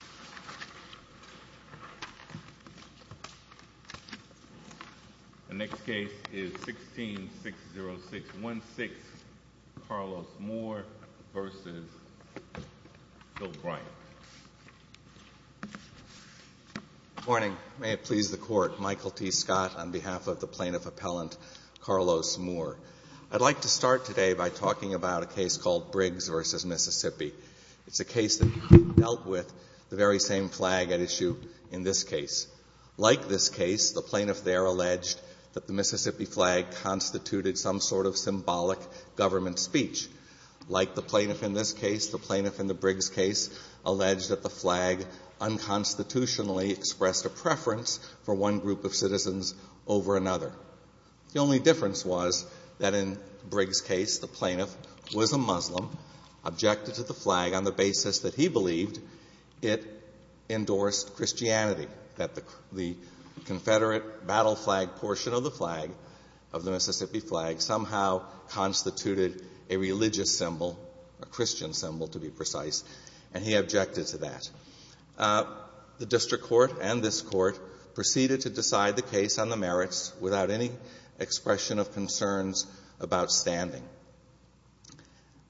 Good morning. May it please the Court, Michael T. Scott on behalf of the Plaintiff Appellant, Carlos Moore. I'd like to start today by talking about a case called Briggs v. Mississippi. It's a case that dealt with the very same flag at issue in this case. Like this case, the plaintiff there alleged that the Mississippi flag constituted some sort of symbolic government speech. Like the plaintiff in this case, the plaintiff in the Briggs case alleged that the flag unconstitutionally expressed a preference for one group of citizens over another. The only difference was that in Briggs' case, the plaintiff was a Muslim, objected to the flag on the basis that he believed it endorsed Christianity, that the Confederate battle flag portion of the flag, of the Mississippi flag, somehow constituted a religious symbol, a Christian symbol to be precise, and he objected to that. The district court and this court proceeded to decide the merits without any expression of concerns about standing.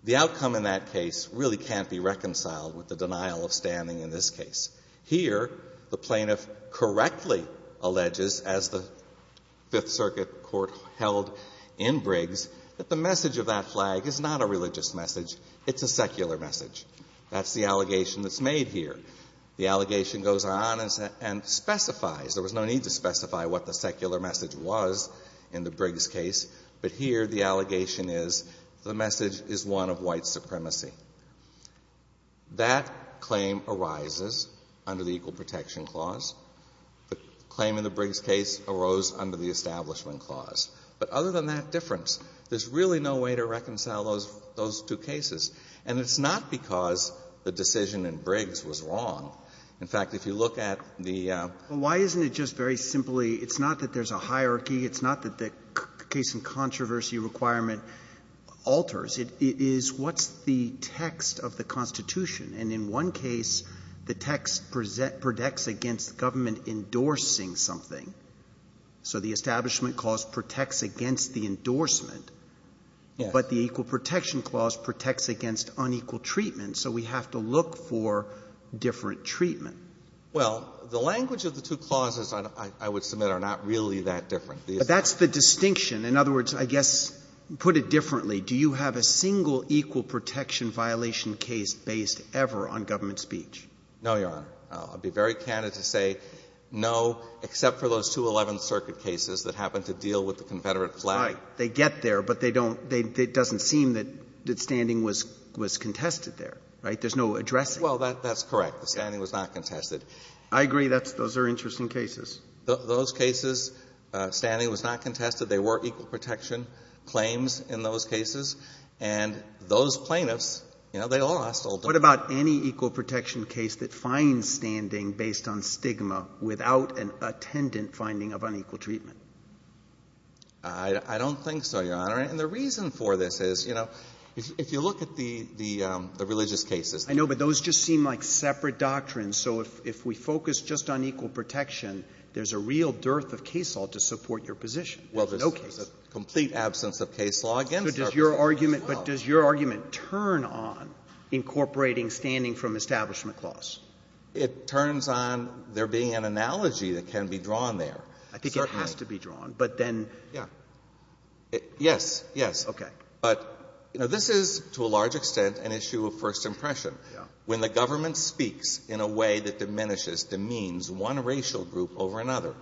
The outcome in that case really can't be reconciled with the denial of standing in this case. Here the plaintiff correctly alleges, as the Fifth Circuit court held in Briggs, that the message of that flag is not a religious message, it's a secular message. That's the allegation that's made here. The allegation goes on and specifies, there was no need to specify what the secular message was in the Briggs case, but here the allegation is the message is one of white supremacy. That claim arises under the Equal Protection Clause. The claim in the Briggs case arose under the Establishment Clause. But other than that difference, there's really no way to reconcile those two cases. And it's not because the decision in Briggs was wrong. In fact, if you look at the ---- Roberts, why isn't it just very simply, it's not that there's a hierarchy, it's not that the case-in-controversy requirement alters, it is what's the text of the Constitution? And in one case, the text protects against the government endorsing something. So the Establishment Clause protects against the endorsement, but the Equal Protection Clause protects against unequal treatment. So we have to look for different treatment. Well, the language of the two clauses, I would submit, are not really that different. That's the distinction. In other words, I guess, put it differently, do you have a single equal protection violation case based ever on government speech? No, Your Honor. I'll be very candid to say no, except for those two Eleventh Circuit cases that happen to deal with the Confederate flag. Right. They get there, but they don't — it doesn't seem that standing was contested there, right? There's no addressing. Well, that's correct. The standing was not contested. I agree. Those are interesting cases. Those cases, standing was not contested. There were equal protection claims in those cases. And those plaintiffs, you know, they all ---- What about any equal protection case that finds standing based on stigma without an attendant finding of unequal treatment? I don't think so, Your Honor. And the reason for this is, you know, if you look at the religious cases ---- I know, but those just seem like separate doctrines. So if we focus just on equal protection, there's a real dearth of case law to support your position. No case law. Well, there's a complete absence of case law against ---- But does your argument turn on incorporating standing from establishment clause? It turns on there being an analogy that can be drawn there. I think it has to be drawn. But then ---- Yeah. Yes, yes. Okay. But, you know, this is to a large extent an issue of first impression. Yeah. When the government speaks in a way that diminishes, demeans one racial group over another,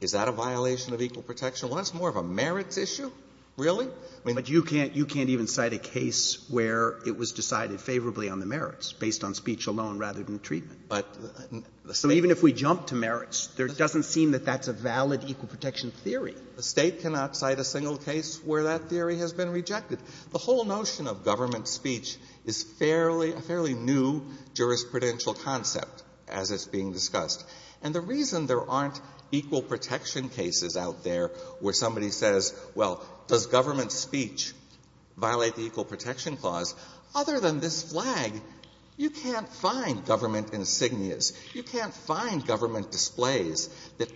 is that a violation of equal protection? Well, that's more of a merits issue. Really? But you can't even cite a case where it was decided favorably on the merits based on speech alone rather than treatment. But ---- So even if we jump to merits, there doesn't seem that that's a valid equal protection theory. The State cannot cite a single case where that theory has been rejected. The whole notion of government speech is fairly new jurisprudential concept as it's being discussed. And the reason there aren't equal protection cases out there where somebody says, well, does government speech violate the equal protection clause, other than this flag? You can't find government insignias. You can't find government displays that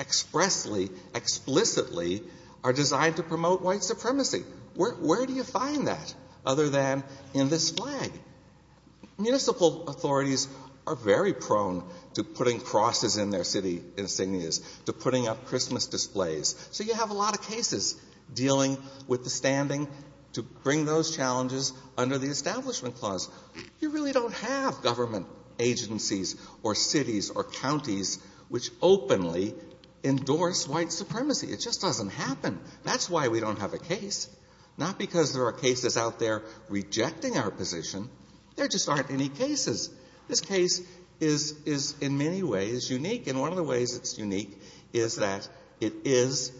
expressly, explicitly are designed to promote white supremacy. Where do you find that other than in this flag? Municipal authorities are very prone to putting crosses in their city insignias, to putting up Christmas displays. So you have a lot of cases dealing with the standing to bring those challenges under the Establishment Clause. You really don't have government agencies or cities or counties which openly endorse white supremacy. It just doesn't happen. That's why we don't have a case. Not because there are cases out there rejecting our position. There just aren't any cases. This case is in many ways unique. And one of the ways it's unique is that it is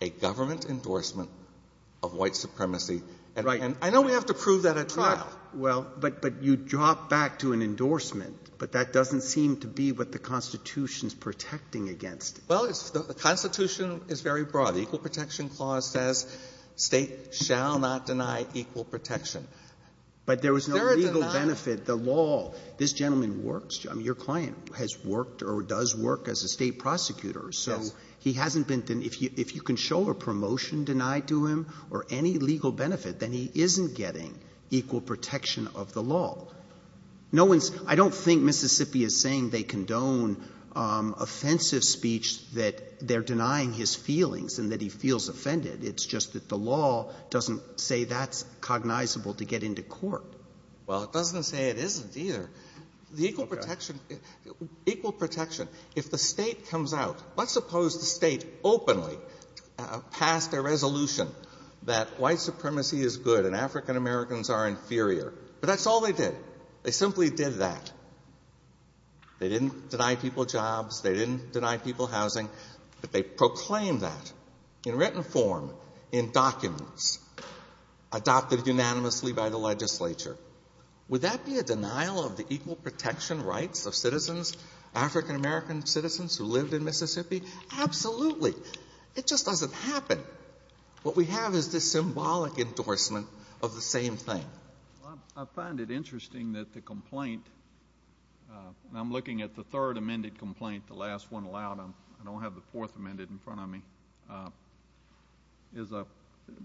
a government endorsement of white supremacy. Right. And I know we have to prove that at trial. Well, but you drop back to an endorsement. But that doesn't seem to be what the Constitution is protecting against. Well, the Constitution is very broad. The Equal Protection Clause says State shall not deny equal protection. But there was no legal benefit. The law. This gentleman works. I mean, your client has worked or does work as a State prosecutor. Yes. So he hasn't been denyed. denied to him or any legal benefit, then he isn't getting equal protection of the law. No one's — I don't think Mississippi is saying they condone offensive speech that they're denying his feelings and that he feels offended. It's just that the law doesn't say that's cognizable to get into court. Well, it doesn't say it isn't either. The equal protection — equal protection. If the State comes out, let's suppose the State openly passed a resolution that white supremacy is good and African Americans are inferior. But that's all they did. They simply did that. They didn't deny people jobs. They didn't deny people housing. But they proclaimed that in written form, in documents, adopted unanimously by the legislature. Would that be a denial of the equal protection rights of citizens, African American citizens who lived in Mississippi? Absolutely. It just doesn't happen. What we have is this symbolic endorsement of the same thing. I find it interesting that the complaint, and I'm looking at the third amended complaint, the last one allowed. I don't have the fourth amended in front of me. It's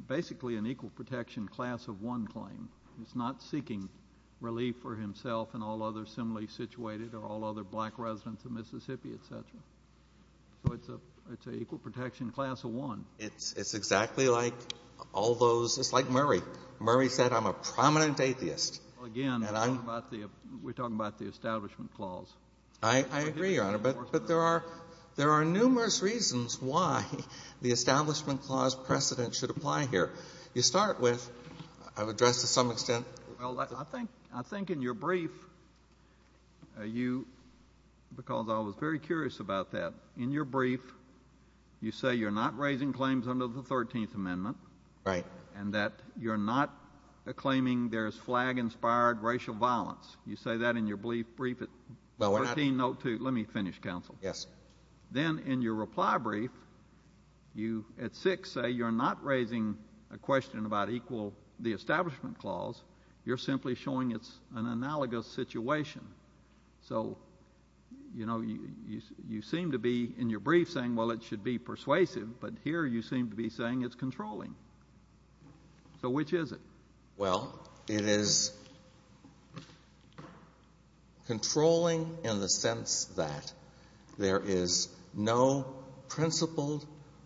basically an equal protection class of one claim. It's not seeking relief for himself and all others similarly situated or all other black residents of Mississippi, et cetera. So it's an equal protection class of one. It's exactly like all those—it's like Murray. Murray said, I'm a prominent atheist. Again, we're talking about the Establishment Clause. I agree, Your Honor, but there are numerous reasons why the Establishment Clause precedent should apply here. You start with—I've addressed to some extent— Well, I think in your brief you—because I was very curious about that. In your brief, you say you're not raising claims under the 13th Amendment and that you're not claiming there's flag-inspired racial violence. You say that in your brief at 13.02. Let me finish, counsel. Then in your reply brief, you at 6 say you're not raising a question about equal—the Establishment Clause. You're simply showing it's an analogous situation. So, you know, you seem to be in your brief saying, well, it should be persuasive, but here you seem to be saying it's controlling. So which is it? Well, it is controlling in the sense that there is no principled,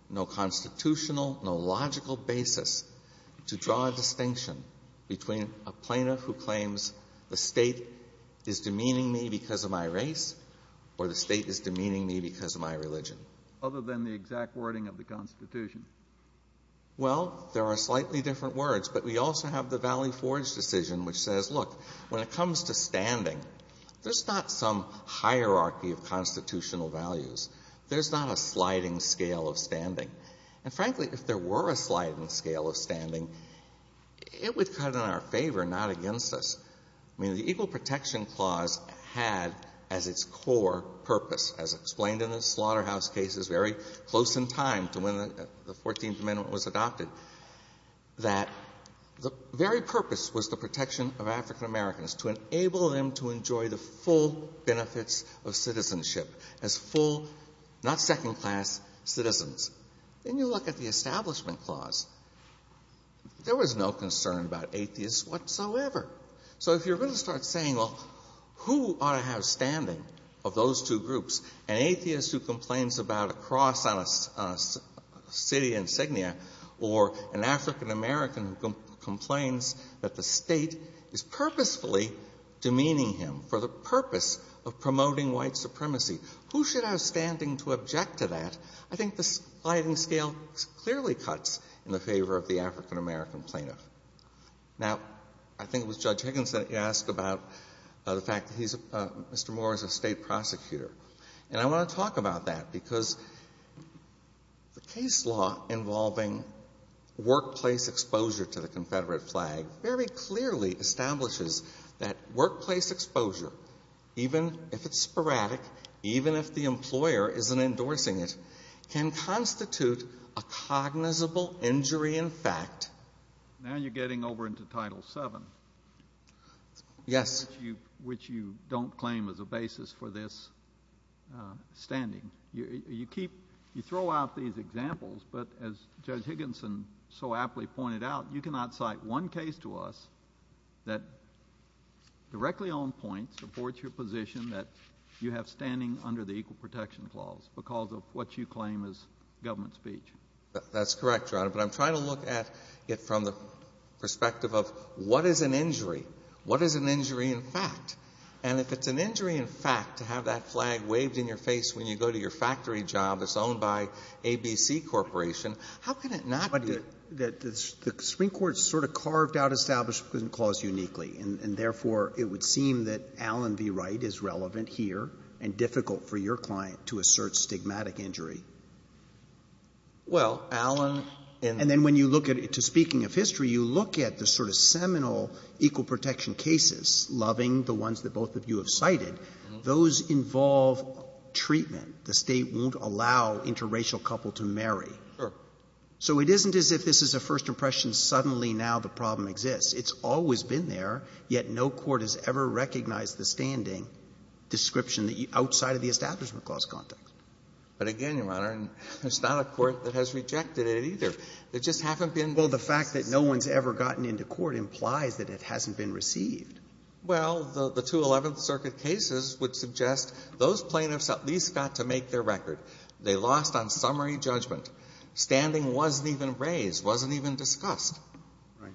no constitutional, no logical basis to draw a distinction between a plaintiff who claims the State is demeaning me because of my race or the State is demeaning me because of my religion. Other than the exact wording of the Constitution. Well, there are slightly different words, but we also have the Valley Forge decision which says, look, when it comes to standing, there's not some hierarchy of constitutional values. There's not a sliding scale of standing. And frankly, if there were a sliding scale of standing, it would cut in our favor, not against us. I mean, the Equal Protection Clause had as its core purpose, as explained in the Slaughterhouse cases very close in time to when the Fourteenth Amendment was adopted, that the very purpose was the protection of African Americans, to enable them to enjoy the full benefits of citizenship as full, not second-class citizens. Then you look at the Establishment Clause. There was no concern about atheists whatsoever. So if you're going to start saying, well, who ought to have standing of those two groups, an atheist who complains about a cross on a city insignia or an African American who complains that the State is purposefully demeaning him for the purpose of promoting white supremacy, who should have standing to object to that? I think the sliding scale clearly cuts in the favor of the African American plaintiff. Now, I think it was Judge Higgins that asked about the fact that he's Mr. Moore is a State prosecutor. And I want to talk about that, because the case law involving workplace exposure to the Confederate flag very clearly establishes that workplace exposure, even if it's sporadic, even if the employer isn't endorsing it, can constitute a cognizable injury in fact. Now you're getting over into Title VII. Yes. Which you don't claim as a basis for this standing. You keep, you throw out these examples, but as Judge Higginson so aptly pointed out, you cannot cite one case to us that directly on point supports your position that you have standing under the Equal Protection Clause because of what you claim is government speech. That's correct, Your Honor. But I'm trying to look at it from the perspective of what is an injury? What is an injury in fact? And if it's an injury in fact to have that flag waved in your face when you go to your factory job that's owned by ABC Corporation, how can it not be? But the Supreme Court sort of carved out Establishment Clause uniquely, and therefore it would seem that Allen v. Wright is relevant here and difficult for your client to assert stigmatic injury. Well, Allen in the And then when you look at it, to speaking of history, you look at the sort of seminal Equal Protection cases, Loving, the ones that both of you have cited. Those involve treatment. The State won't allow interracial couple to marry. So it isn't as if this is a first impression, suddenly now the problem exists. It's always been there, yet no court has ever recognized the standing description outside of the Establishment Clause context. But again, Your Honor, it's not a court that has rejected it either. There just haven't been Well, the fact that no one's ever gotten into court implies that it hasn't been received. Well, the 211th Circuit cases would suggest those plaintiffs at least got to make their record. They lost on summary judgment. Standing wasn't even raised, wasn't even discussed. Right.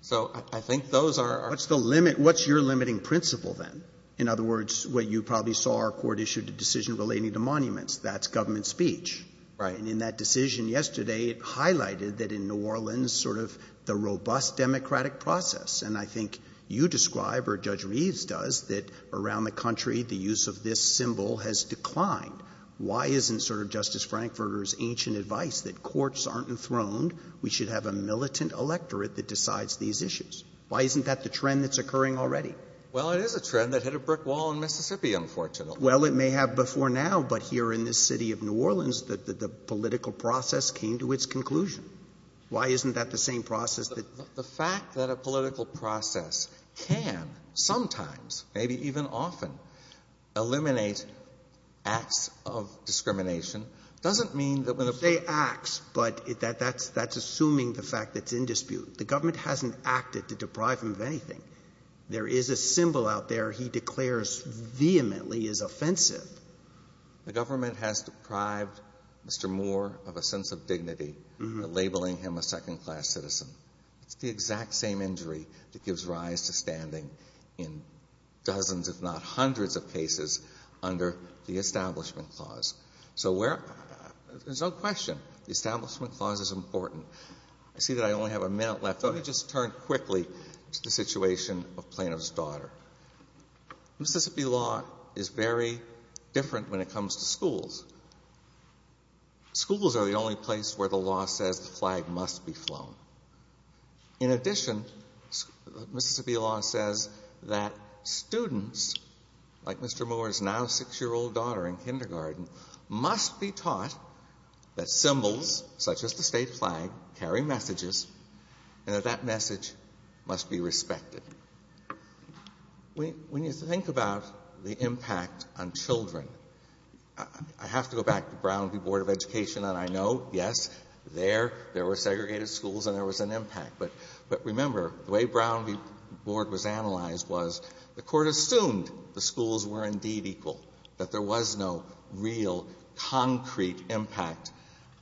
So I think those are What's the limit? What's your limiting principle then? In other words, what you probably saw, our court issued a decision relating to monuments. That's government speech. Right. And in that decision yesterday, it highlighted that in New Orleans sort of the robust democratic process. And I think you describe or Judge Reeves does that around the country the use of this symbol has declined. Why isn't sort of Justice Frankfurter's ancient advice that courts aren't enthroned? We should have a militant electorate that decides these issues. Why isn't that the trend that's occurring already? Well, it is a trend that hit a brick wall in Mississippi, unfortunately. Well, it may have before now. But here in this city of New Orleans, the political process came to its conclusion. Why isn't that the same process? The fact that a political process can sometimes, maybe even often, eliminate acts of discrimination doesn't mean that when they say acts, but that that's that's assuming the fact that's in dispute. The government hasn't acted to deprive him of anything. There is a symbol out there. He declares vehemently is offensive. The government has deprived Mr. Moore of a sense of dignity by labeling him a second class citizen. It's the exact same injury that gives rise to standing in dozens, if not hundreds of cases under the Establishment Clause. So where there's no question the Establishment Clause is important. I see that I only have a minute left. Let me just turn quickly to the situation of Plano's daughter. Mississippi law is very different when it comes to schools. Schools are the only place where the law says the flag must be flown. In addition, Mississippi law says that students, like Mr. Moore's now six-year-old daughter in kindergarten, must be taught that symbols, such as the state flag, carry messages and that that message must be respected. When you think about the impact on children, I have to go back to Brown v. Board of Education and I know, yes, there were segregated schools and there was an impact. But remember, the way Brown v. Board was analyzed was the Court assumed the schools were indeed equal, that there was no real concrete impact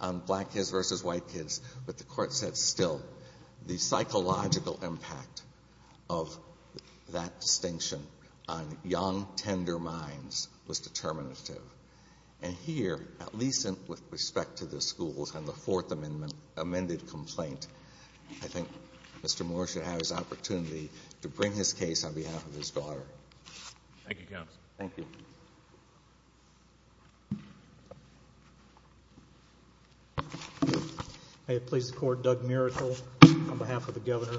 on black kids versus white kids. But the Court said, still, the psychological impact of that distinction on young, tender minds was determinative. And here, at least with respect to the schools and the Fourth Amendment amended complaint, I think Mr. Moore should have his opportunity to bring his case on behalf of his daughter. Thank you, Counsel. Thank you. May it please the Court, Doug Miracle on behalf of the Governor. I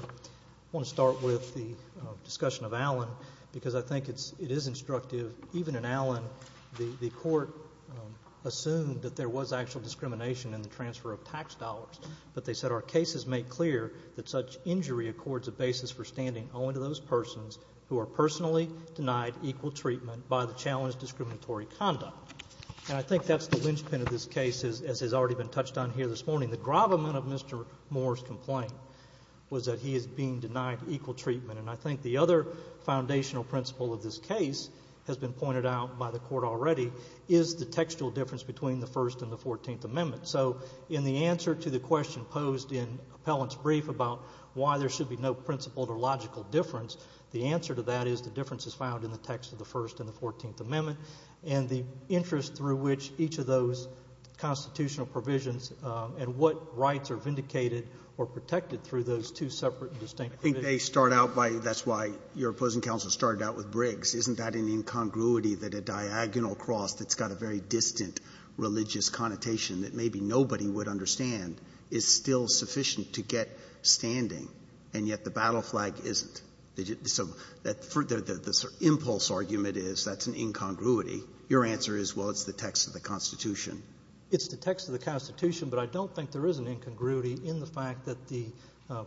want to start with the discussion of Allen because I think it is instructive. Even in Allen, the Court assumed that there was actual discrimination in the transfer of tax dollars. But they said, our cases make clear that such injury accords a basis for standing only to those persons who are personally denied equal treatment by the challenged discriminatory conduct. And I think that's the linchpin of this case, as has already been touched on here this morning. The gravamen of Mr. Moore's complaint was that he is being denied equal treatment. And I think the other foundational principle of this case has been pointed out by the Court already is the textual difference between the First and the Fourteenth Amendments. So in the answer to the question posed in Appellant's brief about why there should be no principle or logical difference, the answer to that is the difference is found in the text of the First and the Fourteenth Amendment and the interest through which each of those constitutional provisions and what rights are vindicated or protected through those two separate and distinct provisions. I think they start out by — that's why your opposing counsel started out with Briggs. Isn't that an incongruity that a diagonal cross that's got a very distant religious connotation that maybe nobody would understand is still sufficient to get standing? And yet the battle flag isn't. So the impulse argument is that's an incongruity. Your answer is, well, it's the text of the Constitution. It's the text of the Constitution, but I don't think there is an incongruity in the fact that the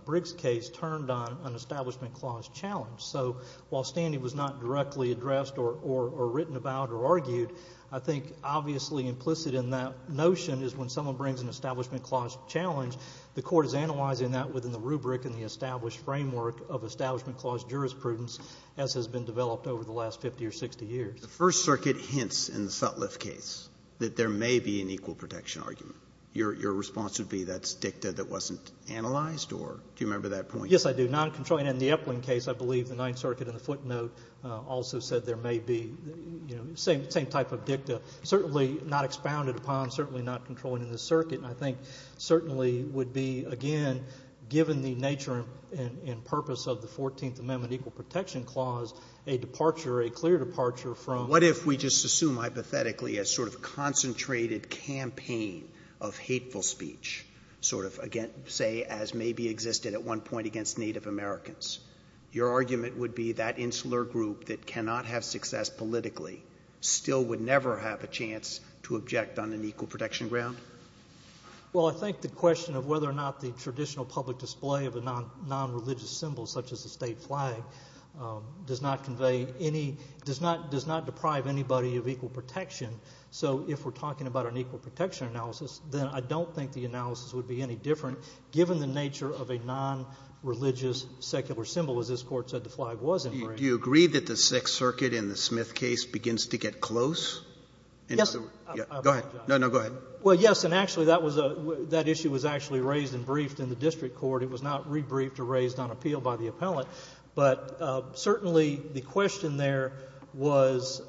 Briggs case turned on an Establishment Clause challenge. So while standing was not directly addressed or written about or argued, I think obviously implicit in that notion is when someone brings an Establishment Clause challenge, the Court is analyzing that within the rubric and the established framework of Establishment Clause jurisprudence as has been developed over the last 50 or 60 years. The First Circuit hints in the Sutliff case that there may be an equal protection argument. Your response would be that's dicta that wasn't analyzed, or do you remember that point? Yes, I do. Noncontrolling in the Epling case, I believe the Ninth Circuit in the footnote also said there may be, you know, same type of dicta, certainly not expounded upon, certainly not controlling in this circuit. And I think certainly would be, again, given the nature and purpose of the Fourteenth Amendment Equal Protection Clause, a departure, a clear departure from... What if we just assume hypothetically a sort of concentrated campaign of hateful speech, sort of say as maybe existed at one point against Native Americans? Your argument would be that insular group that cannot have success politically still would never have a chance to object on an equal protection ground? Well, I think the question of whether or not the traditional public display of a nonreligious symbol such as the state flag does not convey any, does not deprive anybody of equal protection. So if we're talking about an equal protection analysis, then I don't think the analysis would be any different given the nature of a nonreligious secular symbol. As this Court said, the flag was engraved. Do you agree that the Sixth Circuit in the Smith case begins to get close? Yes. Go ahead. No, no, go ahead. Well, yes, and actually that was a, that issue was actually raised and briefed in the district court. It was not rebriefed or raised on appeal by the appellant. But certainly the question there was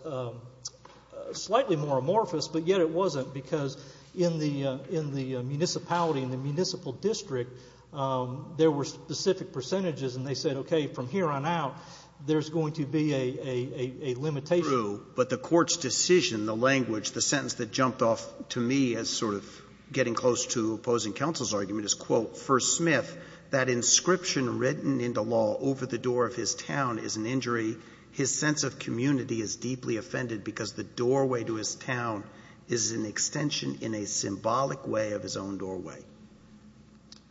slightly more amorphous, but yet it wasn't because in the, in the municipality, in the municipal district, there were specific percentages and they said, okay, from here on out, there's going to be a, a, a limitation. True, but the Court's decision, the language, the sentence that jumped off to me as sort of getting close to opposing counsel's argument is, quote, First Smith, that inscription written into law over the door of his town is an injury. His sense of community is deeply offended because the doorway to his town is an extension in a symbolic way of his own doorway.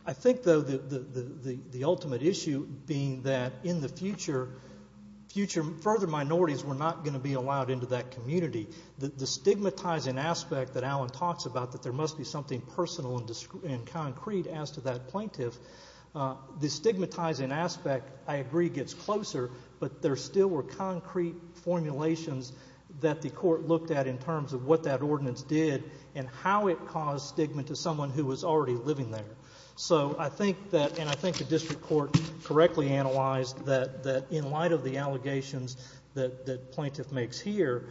I think, though, the, the ultimate issue being that in the future, future further minorities were not going to be allowed into that community. The stigmatizing aspect that Alan talks about, that there must be something personal and concrete as to that plaintiff, the stigmatizing aspect, I agree, gets closer, but there still were concrete formulations that the Court looked at in terms of what that ordinance did and how it caused stigma to someone who was already living there. So I think that, and I think the district court correctly analyzed that, that in light of the allegations that, that plaintiff makes here,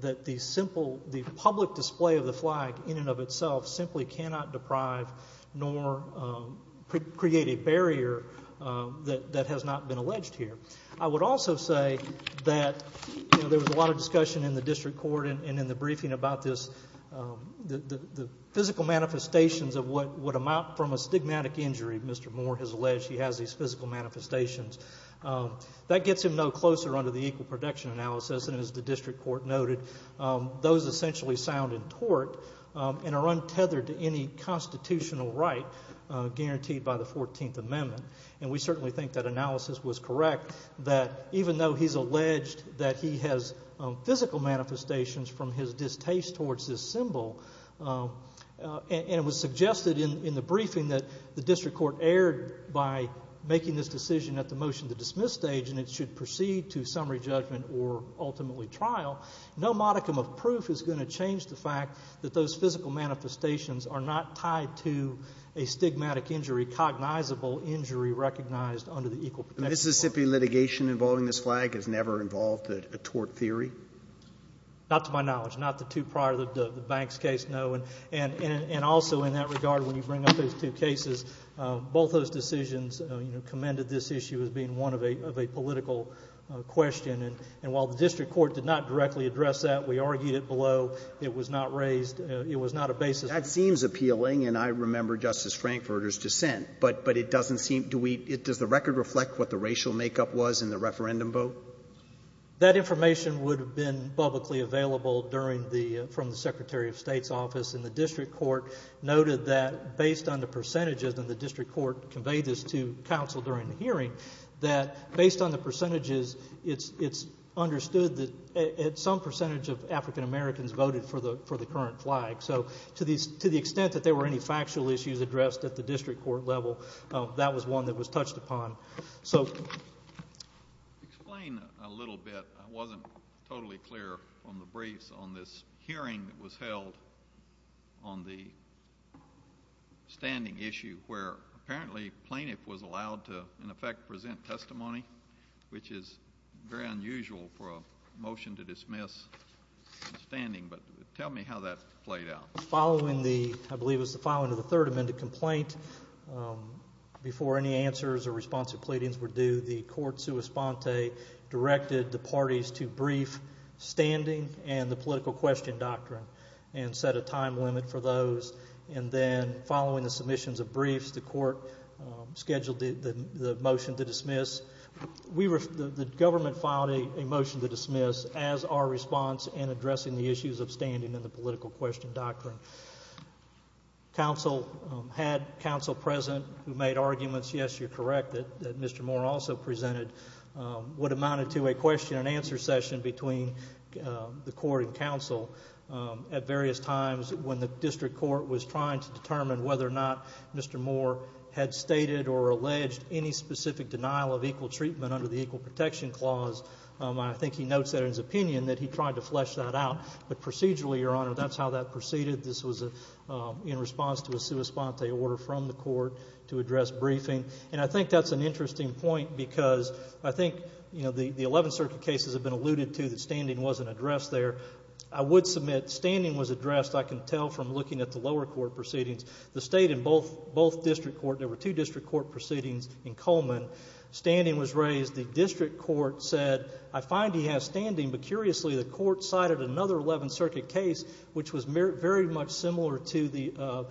that the simple, the public display of the flag in and of itself simply cannot deprive nor create a barrier that, that has not been alleged here. I would also say that, you know, there was a lot of discussion in the district court and in the briefing about this, the, the physical manifestations of what would amount from a stigmatic injury, Mr. Moore has alleged he has these physical manifestations. That gets him no closer under the equal protection analysis, and as the district court noted, those essentially sound in tort and are untethered to any constitutional right guaranteed by the 14th Amendment. And we certainly think that analysis was correct, that even though he's alleged that he has physical manifestations from his distaste towards this symbol, and it was suggested in, in the briefing that the district court erred by making this decision at the motion to dismiss stage and it should proceed to summary judgment or ultimately trial, no modicum of proof is going to change the fact that those physical manifestations are not tied to a stigmatic injury, cognizable injury recognized under the equal protection process. And Mississippi litigation involving this flag has never involved a tort theory? Not to my knowledge. Not the two prior to the Banks case, no. And also in that regard, when you bring up those two cases, both those decisions, you know, commended this issue as being one of a political question. And while the district court did not directly address that, we argued it below, it was not raised, it was not a basis. That seems appealing, and I remember Justice Frankfurter's dissent. But, but it doesn't seem, do we, does the record reflect what the racial makeup was in the referendum vote? That information would have been publicly available during the, from the Secretary of State's office, and the district court noted that based on the percentages, and the district court conveyed this to counsel during the hearing, that based on the percentages, it's, it's understood that some percentage of African Americans voted for the, for the current flag. So to the, to the extent that there were any factual issues addressed at the district level, that was one that was touched upon. So. Explain a little bit, I wasn't totally clear on the briefs on this hearing that was held on the standing issue where apparently plaintiff was allowed to, in effect, present testimony, which is very unusual for a motion to dismiss standing. But tell me how that played out. Following the, I believe it was the filing of the Third Amendment complaint, before any answers or responsive pleadings were due, the court sui sponte directed the parties to brief standing and the political question doctrine, and set a time limit for those. And then following the submissions of briefs, the court scheduled the, the motion to dismiss. We were, the government filed a motion to dismiss as our response in counsel had counsel present who made arguments, yes, you're correct, that, that Mr. Moore also presented what amounted to a question and answer session between the court and counsel at various times when the district court was trying to determine whether or not Mr. Moore had stated or alleged any specific denial of equal treatment under the Equal Protection Clause. I think he notes that in his opinion that he tried to flesh that out. But procedurally, Your Honor, that's how that proceeded. This was a, in response to a sui sponte order from the court to address briefing. And I think that's an interesting point because I think, you know, the, the Eleventh Circuit cases have been alluded to that standing wasn't addressed there. I would submit standing was addressed, I can tell from looking at the lower court proceedings. The state and both, both district court, there were two district court proceedings in Coleman. Standing was raised. The district court said, I find he has standing, but curiously the court cited another Eleventh Circuit case which was very much similar to the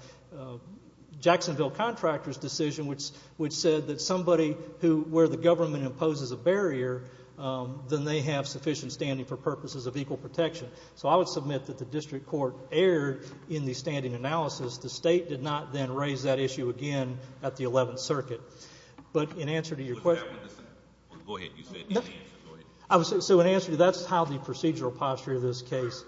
Jacksonville contractor's decision which, which said that somebody who, where the government imposes a barrier, then they have sufficient standing for purposes of equal protection. So I would submit that the district court erred in the standing analysis. The state did not then raise that issue again at the Eleventh Circuit. But in answer to your question. Go ahead. You said. So in answer, that's how the procedural posture of this case.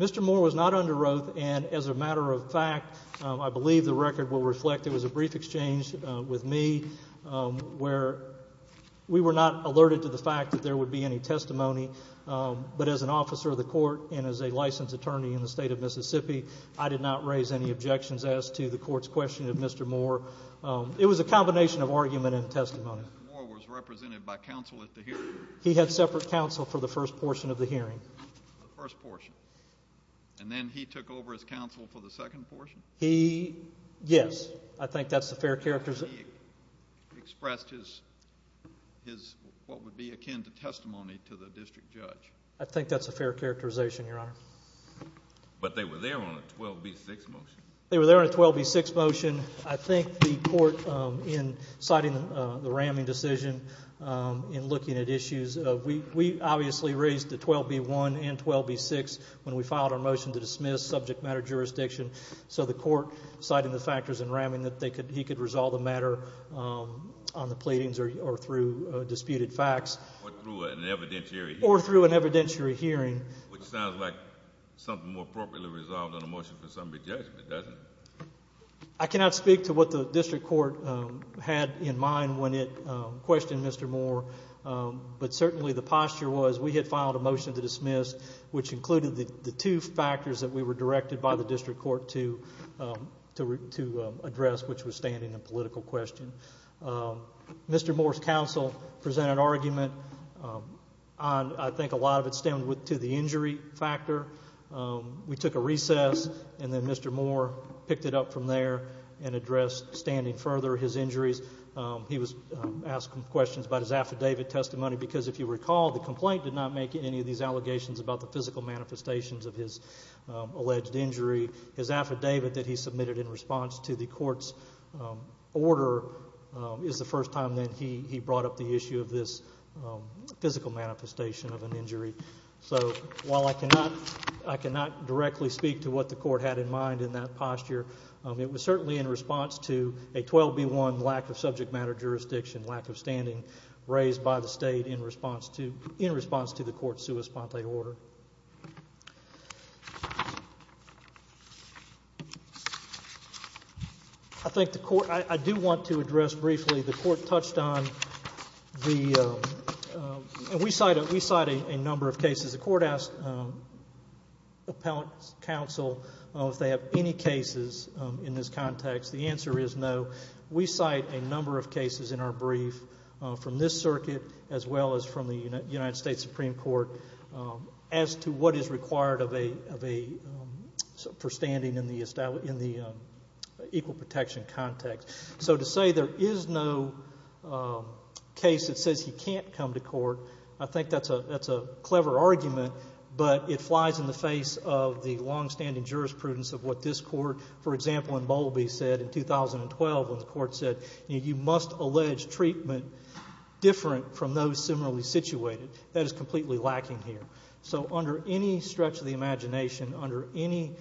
Mr. Moore was not under oath. And as a matter of fact, I believe the record will reflect it was a brief exchange with me where we were not alerted to the fact that there would be any testimony. But as an officer of the court and as a licensed attorney in the state of Mississippi, I did not raise any objections as to the court's question of Mr. Moore. It was a combination of argument and testimony. Mr. Moore was represented by counsel at the hearing. He had separate counsel for the first portion of the hearing. The first portion. And then he took over as counsel for the second portion? He, yes. I think that's a fair characterization. He expressed his, his, what would be akin to testimony to the district judge. I think that's a fair characterization, Your Honor. But they were there on a 12B6 motion. They were there on a 12B6 motion. I think the court, in citing the Ramming decision, in looking at issues, we obviously raised the 12B1 and 12B6 when we filed our motion to dismiss subject matter jurisdiction. So the court, citing the factors in Ramming, that he could resolve the matter on the pleadings or through disputed facts. Or through an evidentiary hearing. Or through an evidentiary hearing. Which sounds like something more appropriately resolved on a motion for somebody's judgment, doesn't it? I cannot speak to what the district court had in mind when it questioned Mr. Moore. But certainly the posture was we had filed a motion to dismiss, which included the two factors that we were directed by the district court to address, which was standing and political question. Mr. Moore's counsel presented an argument. I think a lot of it stemmed to the injury factor. We took a recess and then Mr. Moore picked it up from there and addressed standing further his injuries. He was asked questions about his affidavit testimony because, if you recall, the complaint did not make any of these allegations about the physical manifestations of his alleged injury. His affidavit that he submitted in response to the court's order is the first time So, while I cannot directly speak to what the court had in mind in that posture, it was certainly in response to a 12B1 lack of subject matter jurisdiction, lack of standing raised by the state in response to the court's sua sponte order. I think the court, I do want to address briefly, the court touched on the, and we cite a number of cases. The court asked appellate counsel if they have any cases in this context. The answer is no. We cite a number of cases in our brief from this circuit as well as from the United States Supreme Court as to what is required of a, for standing in the equal protection context. So, to say there is no case that says he can't come to court, I think that's a clever argument, but it flies in the face of the longstanding jurisprudence of what this court, for example, in Bowlby said in 2012 when the court said, you must allege treatment different from those similarly situated. That is completely lacking here. So, under any stretch of the imagination, under any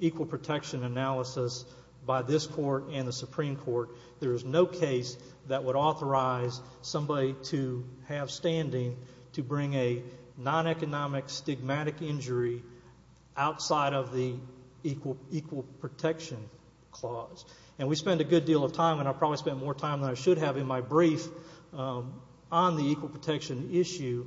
equal protection analysis by this court and the Supreme Court, there is no case that would authorize somebody to have standing to bring a non-economic stigmatic injury outside of the equal protection clause. And we spend a good deal of time, and I probably spend more time than I should have in my brief, on the equal protection issue,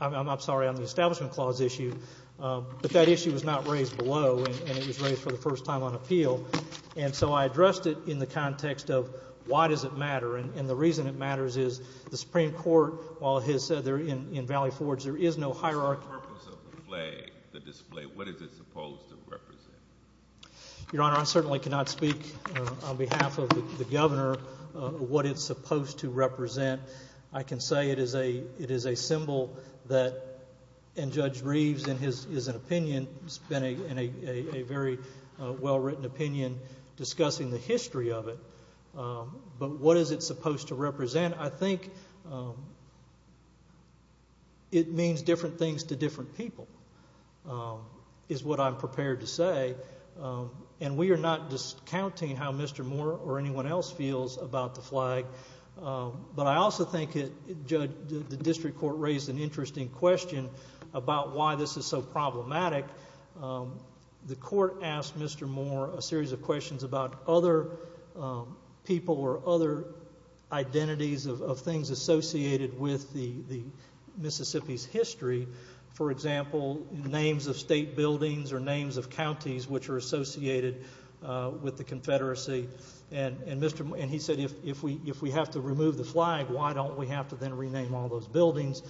I'm sorry, on the establishment clause issue. But that issue was not raised below, and it was raised for the first time on appeal. And so I addressed it in the context of why does it matter. And the reason it matters is the Supreme Court, while it has said there in Valley Forge there is no hierarchy. The purpose of the flag, the display, what is it supposed to represent? Your Honor, I certainly cannot speak on behalf of the Governor what it's supposed to represent. I can say it is a symbol that, and Judge Reeves in his opinion, it's been a very well-written opinion discussing the history of it. But what is it supposed to represent? I think it means different things to different people is what I'm prepared to say. And we are not discounting how Mr. Moore or anyone else feels about the flag. But I also think, Judge, the district court raised an interesting question about why this is so problematic. The court asked Mr. Moore a series of questions about other people or other identities of things associated with Mississippi's history. For example, names of state buildings or names of counties which are associated with the Confederacy. And he said, if we have to remove the flag, why don't we have to then rename all those buildings?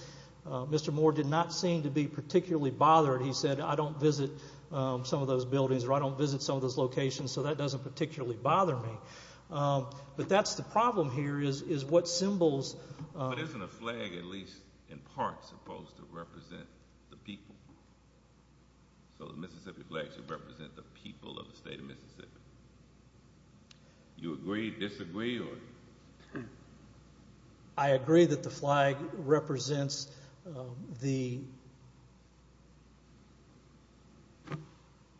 Mr. Moore did not seem to be particularly bothered. He said, I don't visit some of those buildings or I don't visit some of those locations, so that doesn't particularly bother me. But that's the problem here is what symbols. But isn't a flag at least in part supposed to represent the people? So the Mississippi flag should represent the people of the state of Mississippi. Do you agree, disagree, or? I agree that the flag represents the—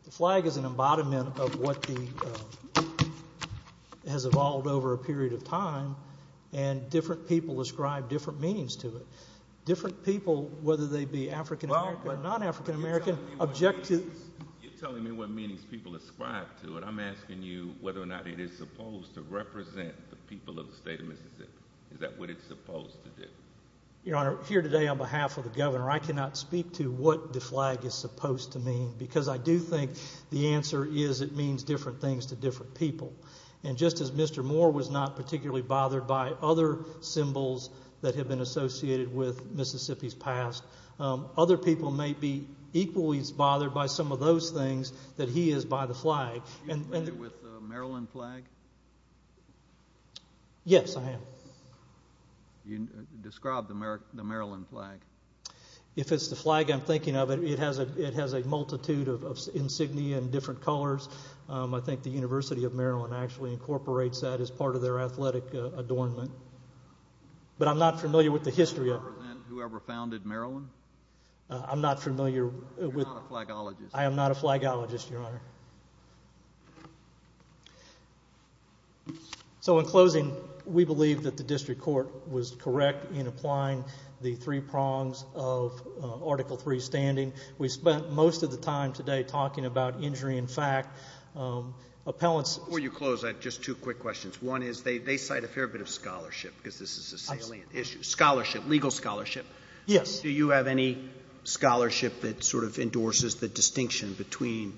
the flag is an embodiment of what has evolved over a period of time, and different people ascribe different meanings to it. Different people, whether they be African American or non-African American, object to— You're telling me what meanings people ascribe to it. I'm asking you whether or not it is supposed to represent the people of the state of Mississippi. Is that what it's supposed to do? Your Honor, here today on behalf of the Governor, I cannot speak to what the flag is supposed to mean because I do think the answer is it means different things to different people. And just as Mr. Moore was not particularly bothered by other symbols that have been associated with Mississippi's past, other people may be equally as bothered by some of those things that he is by the flag. Are you familiar with the Maryland flag? Yes, I am. Describe the Maryland flag. If it's the flag I'm thinking of, it has a multitude of insignia in different colors. I think the University of Maryland actually incorporates that as part of their athletic adornment. But I'm not familiar with the history of— Do you represent whoever founded Maryland? I'm not familiar with— You're not a flagologist. I am not a flagologist, Your Honor. So in closing, we believe that the district court was correct in applying the three prongs of Article III standing. We spent most of the time today talking about injury in fact. Appellants— Before you close, I have just two quick questions. One is they cite a fair bit of scholarship because this is a salient issue. Scholarship, legal scholarship. Yes. Do you have any scholarship that sort of endorses the distinction between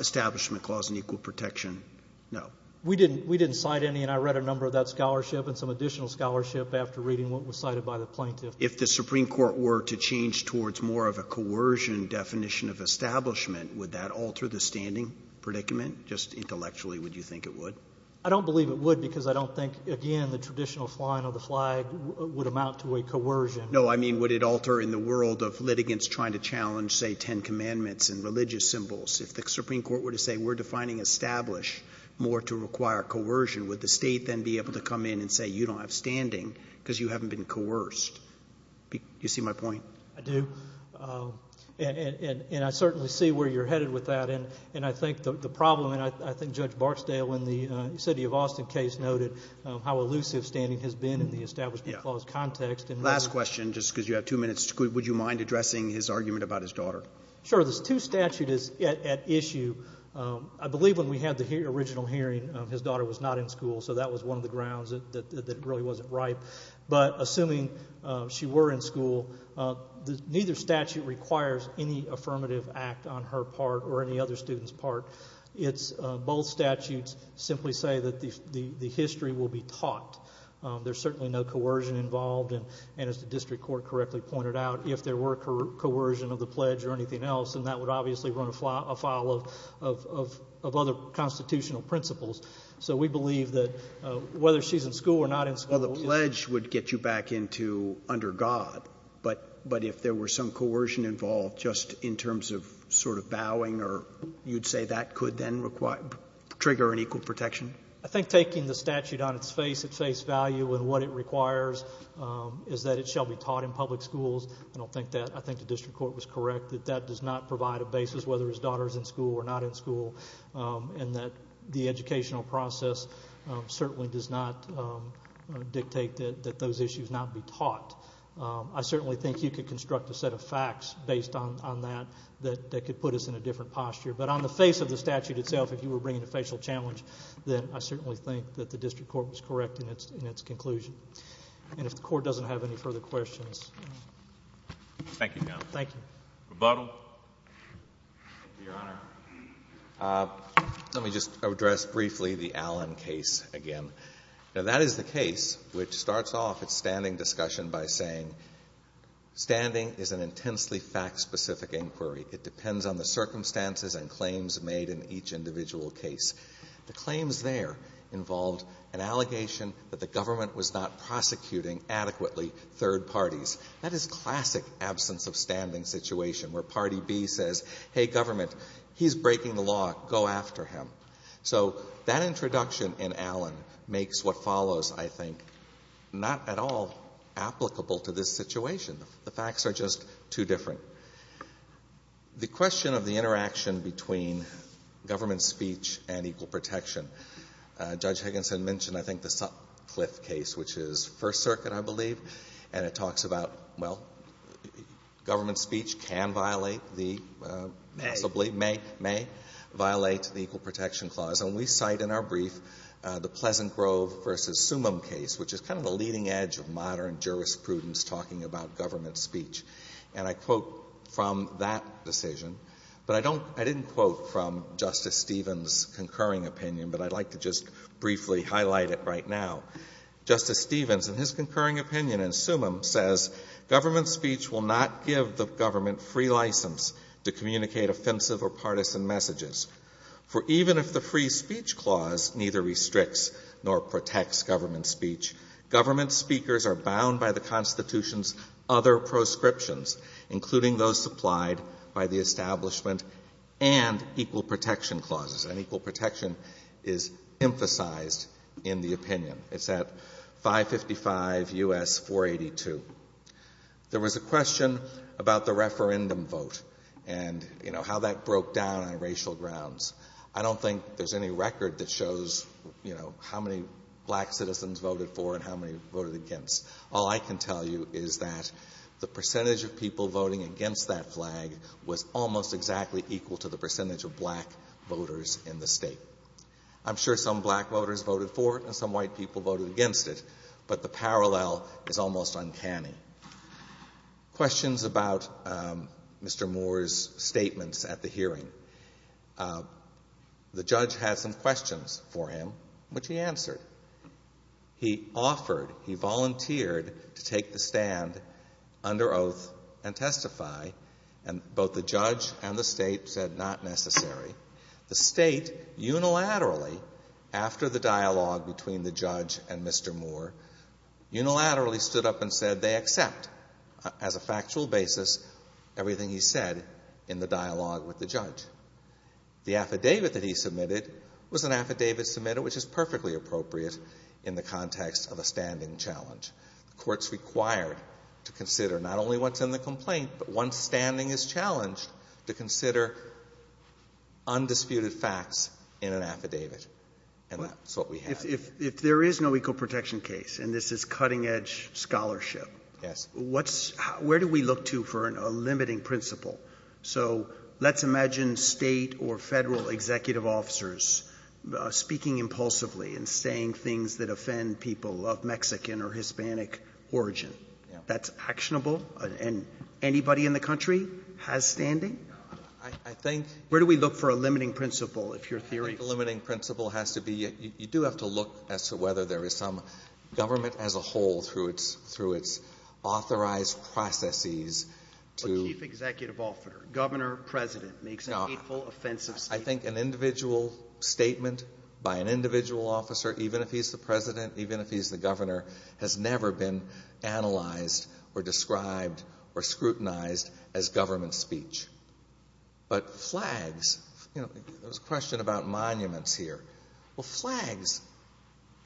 establishment clause and equal protection? No. We didn't cite any, and I read a number of that scholarship and some additional scholarship after reading what was cited by the plaintiff. If the Supreme Court were to change towards more of a coercion definition of establishment, would that alter the standing predicament? Just intellectually, would you think it would? I don't believe it would because I don't think, again, the traditional flying of the flag would amount to a coercion. No, I mean would it alter in the world of litigants trying to challenge, say, Ten Commandments and religious symbols? If the Supreme Court were to say we're defining establish more to require coercion, would the state then be able to come in and say you don't have standing because you haven't been coerced? Do you see my point? I do, and I certainly see where you're headed with that. And I think the problem, and I think Judge Barksdale in the city of Austin case noted how elusive standing has been in the establishment clause context. Last question, just because you have two minutes. Would you mind addressing his argument about his daughter? Sure. There's two statutes at issue. I believe when we had the original hearing, his daughter was not in school, so that was one of the grounds that it really wasn't right. But assuming she were in school, neither statute requires any affirmative act on her part or any other student's part. Both statutes simply say that the history will be taught. There's certainly no coercion involved, and as the district court correctly pointed out, if there were coercion of the pledge or anything else, then that would obviously run afoul of other constitutional principles. So we believe that whether she's in school or not in school— Well, the pledge would get you back into under God, but if there were some coercion involved just in terms of sort of vowing, you'd say that could then trigger an equal protection? I think taking the statute on its face at face value and what it requires is that it shall be taught in public schools. I don't think that—I think the district court was correct that that does not provide a basis whether his daughter is in school or not in school and that the educational process certainly does not dictate that those issues not be taught. I certainly think you could construct a set of facts based on that that could put us in a different posture. But on the face of the statute itself, if you were bringing a facial challenge, then I certainly think that the district court was correct in its conclusion. And if the court doesn't have any further questions— Thank you, counsel. Thank you. Rebuttal? Thank you, Your Honor. Let me just address briefly the Allen case again. Now, that is the case which starts off its standing discussion by saying standing is an intensely fact-specific inquiry. It depends on the circumstances and claims made in each individual case. The claims there involved an allegation that the government was not prosecuting adequately third parties. That is classic absence of standing situation where party B says, hey, government, he's breaking the law. Go after him. So that introduction in Allen makes what follows, I think, not at all applicable to this situation. The facts are just too different. The question of the interaction between government speech and equal protection. Judge Higginson mentioned, I think, the Sutcliffe case, which is First Circuit, I believe, and it talks about, well, government speech can violate the— May. Possibly may violate the Equal Protection Clause. And we cite in our brief the Pleasant Grove v. Sumim case, which is kind of the leading edge of modern jurisprudence talking about government speech. And I quote from that decision, but I don't — I didn't quote from Justice Stevens' concurring opinion, but I'd like to just briefly highlight it right now. Justice Stevens, in his concurring opinion in Sumim, says, government speech will not give the government free license to communicate offensive or partisan messages. For even if the free speech clause neither restricts nor protects government speech, government speakers are bound by the Constitution's other proscriptions, including those supplied by the establishment and equal protection clauses. And equal protection is emphasized in the opinion. It's at 555 U.S. 482. There was a question about the referendum vote and, you know, how that broke down on racial grounds. I don't think there's any record that shows, you know, how many black citizens voted for and how many voted against. All I can tell you is that the percentage of people voting against that flag was almost exactly equal to the percentage of black voters in the state. I'm sure some black voters voted for it and some white people voted against it, but the parallel is almost uncanny. Questions about Mr. Moore's statements at the hearing. The judge had some questions for him, which he answered. He offered, he volunteered to take the stand under oath and testify, and both the judge and the state said not necessary. The state unilaterally, after the dialogue between the judge and Mr. Moore, unilaterally stood up and said they accept, as a factual basis, everything he said in the dialogue with the judge. The affidavit that he submitted was an affidavit submitted which is perfectly appropriate in the context of a standing challenge. The Court's required to consider not only what's in the complaint, but once standing is challenged, to consider undisputed facts in an affidavit. And that's what we have. If there is no equal protection case, and this is cutting edge scholarship, where do we look to for a limiting principle? So let's imagine state or Federal executive officers speaking impulsively and saying things that offend people of Mexican or Hispanic origin. That's actionable? And anybody in the country has standing? I think the limiting principle has to be, you do have to look as to whether there is some government as a whole through its authorized processes to. A chief executive officer, governor, president, makes an hateful, offensive statement. I think an individual statement by an individual officer, even if he's the president, even if he's the governor, has never been analyzed or described or scrutinized as government speech. But flags, there was a question about monuments here. Well, flags,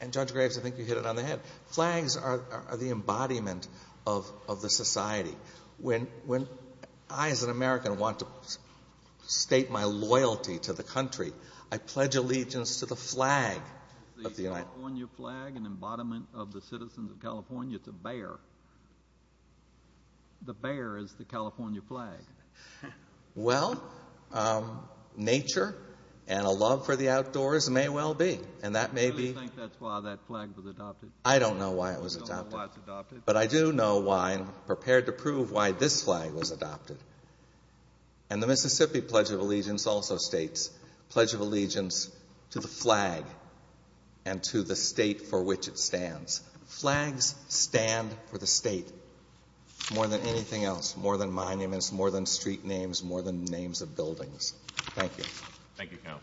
and Judge Graves, I think you hit it on the head, flags are the embodiment of the society. When I as an American want to state my loyalty to the country, I pledge allegiance to the flag of the United States. The California flag, an embodiment of the citizens of California, it's a bear. The bear is the California flag. Well, nature and a love for the outdoors may well be, and that may be. Do you think that's why that flag was adopted? I don't know why it was adopted. You don't know why it was adopted? But I do know why and prepared to prove why this flag was adopted. And the Mississippi Pledge of Allegiance also states, Pledge of Allegiance to the flag and to the state for which it stands. Flags stand for the state more than anything else, more than monuments, more than street names, more than names of buildings. Thank you, counsel.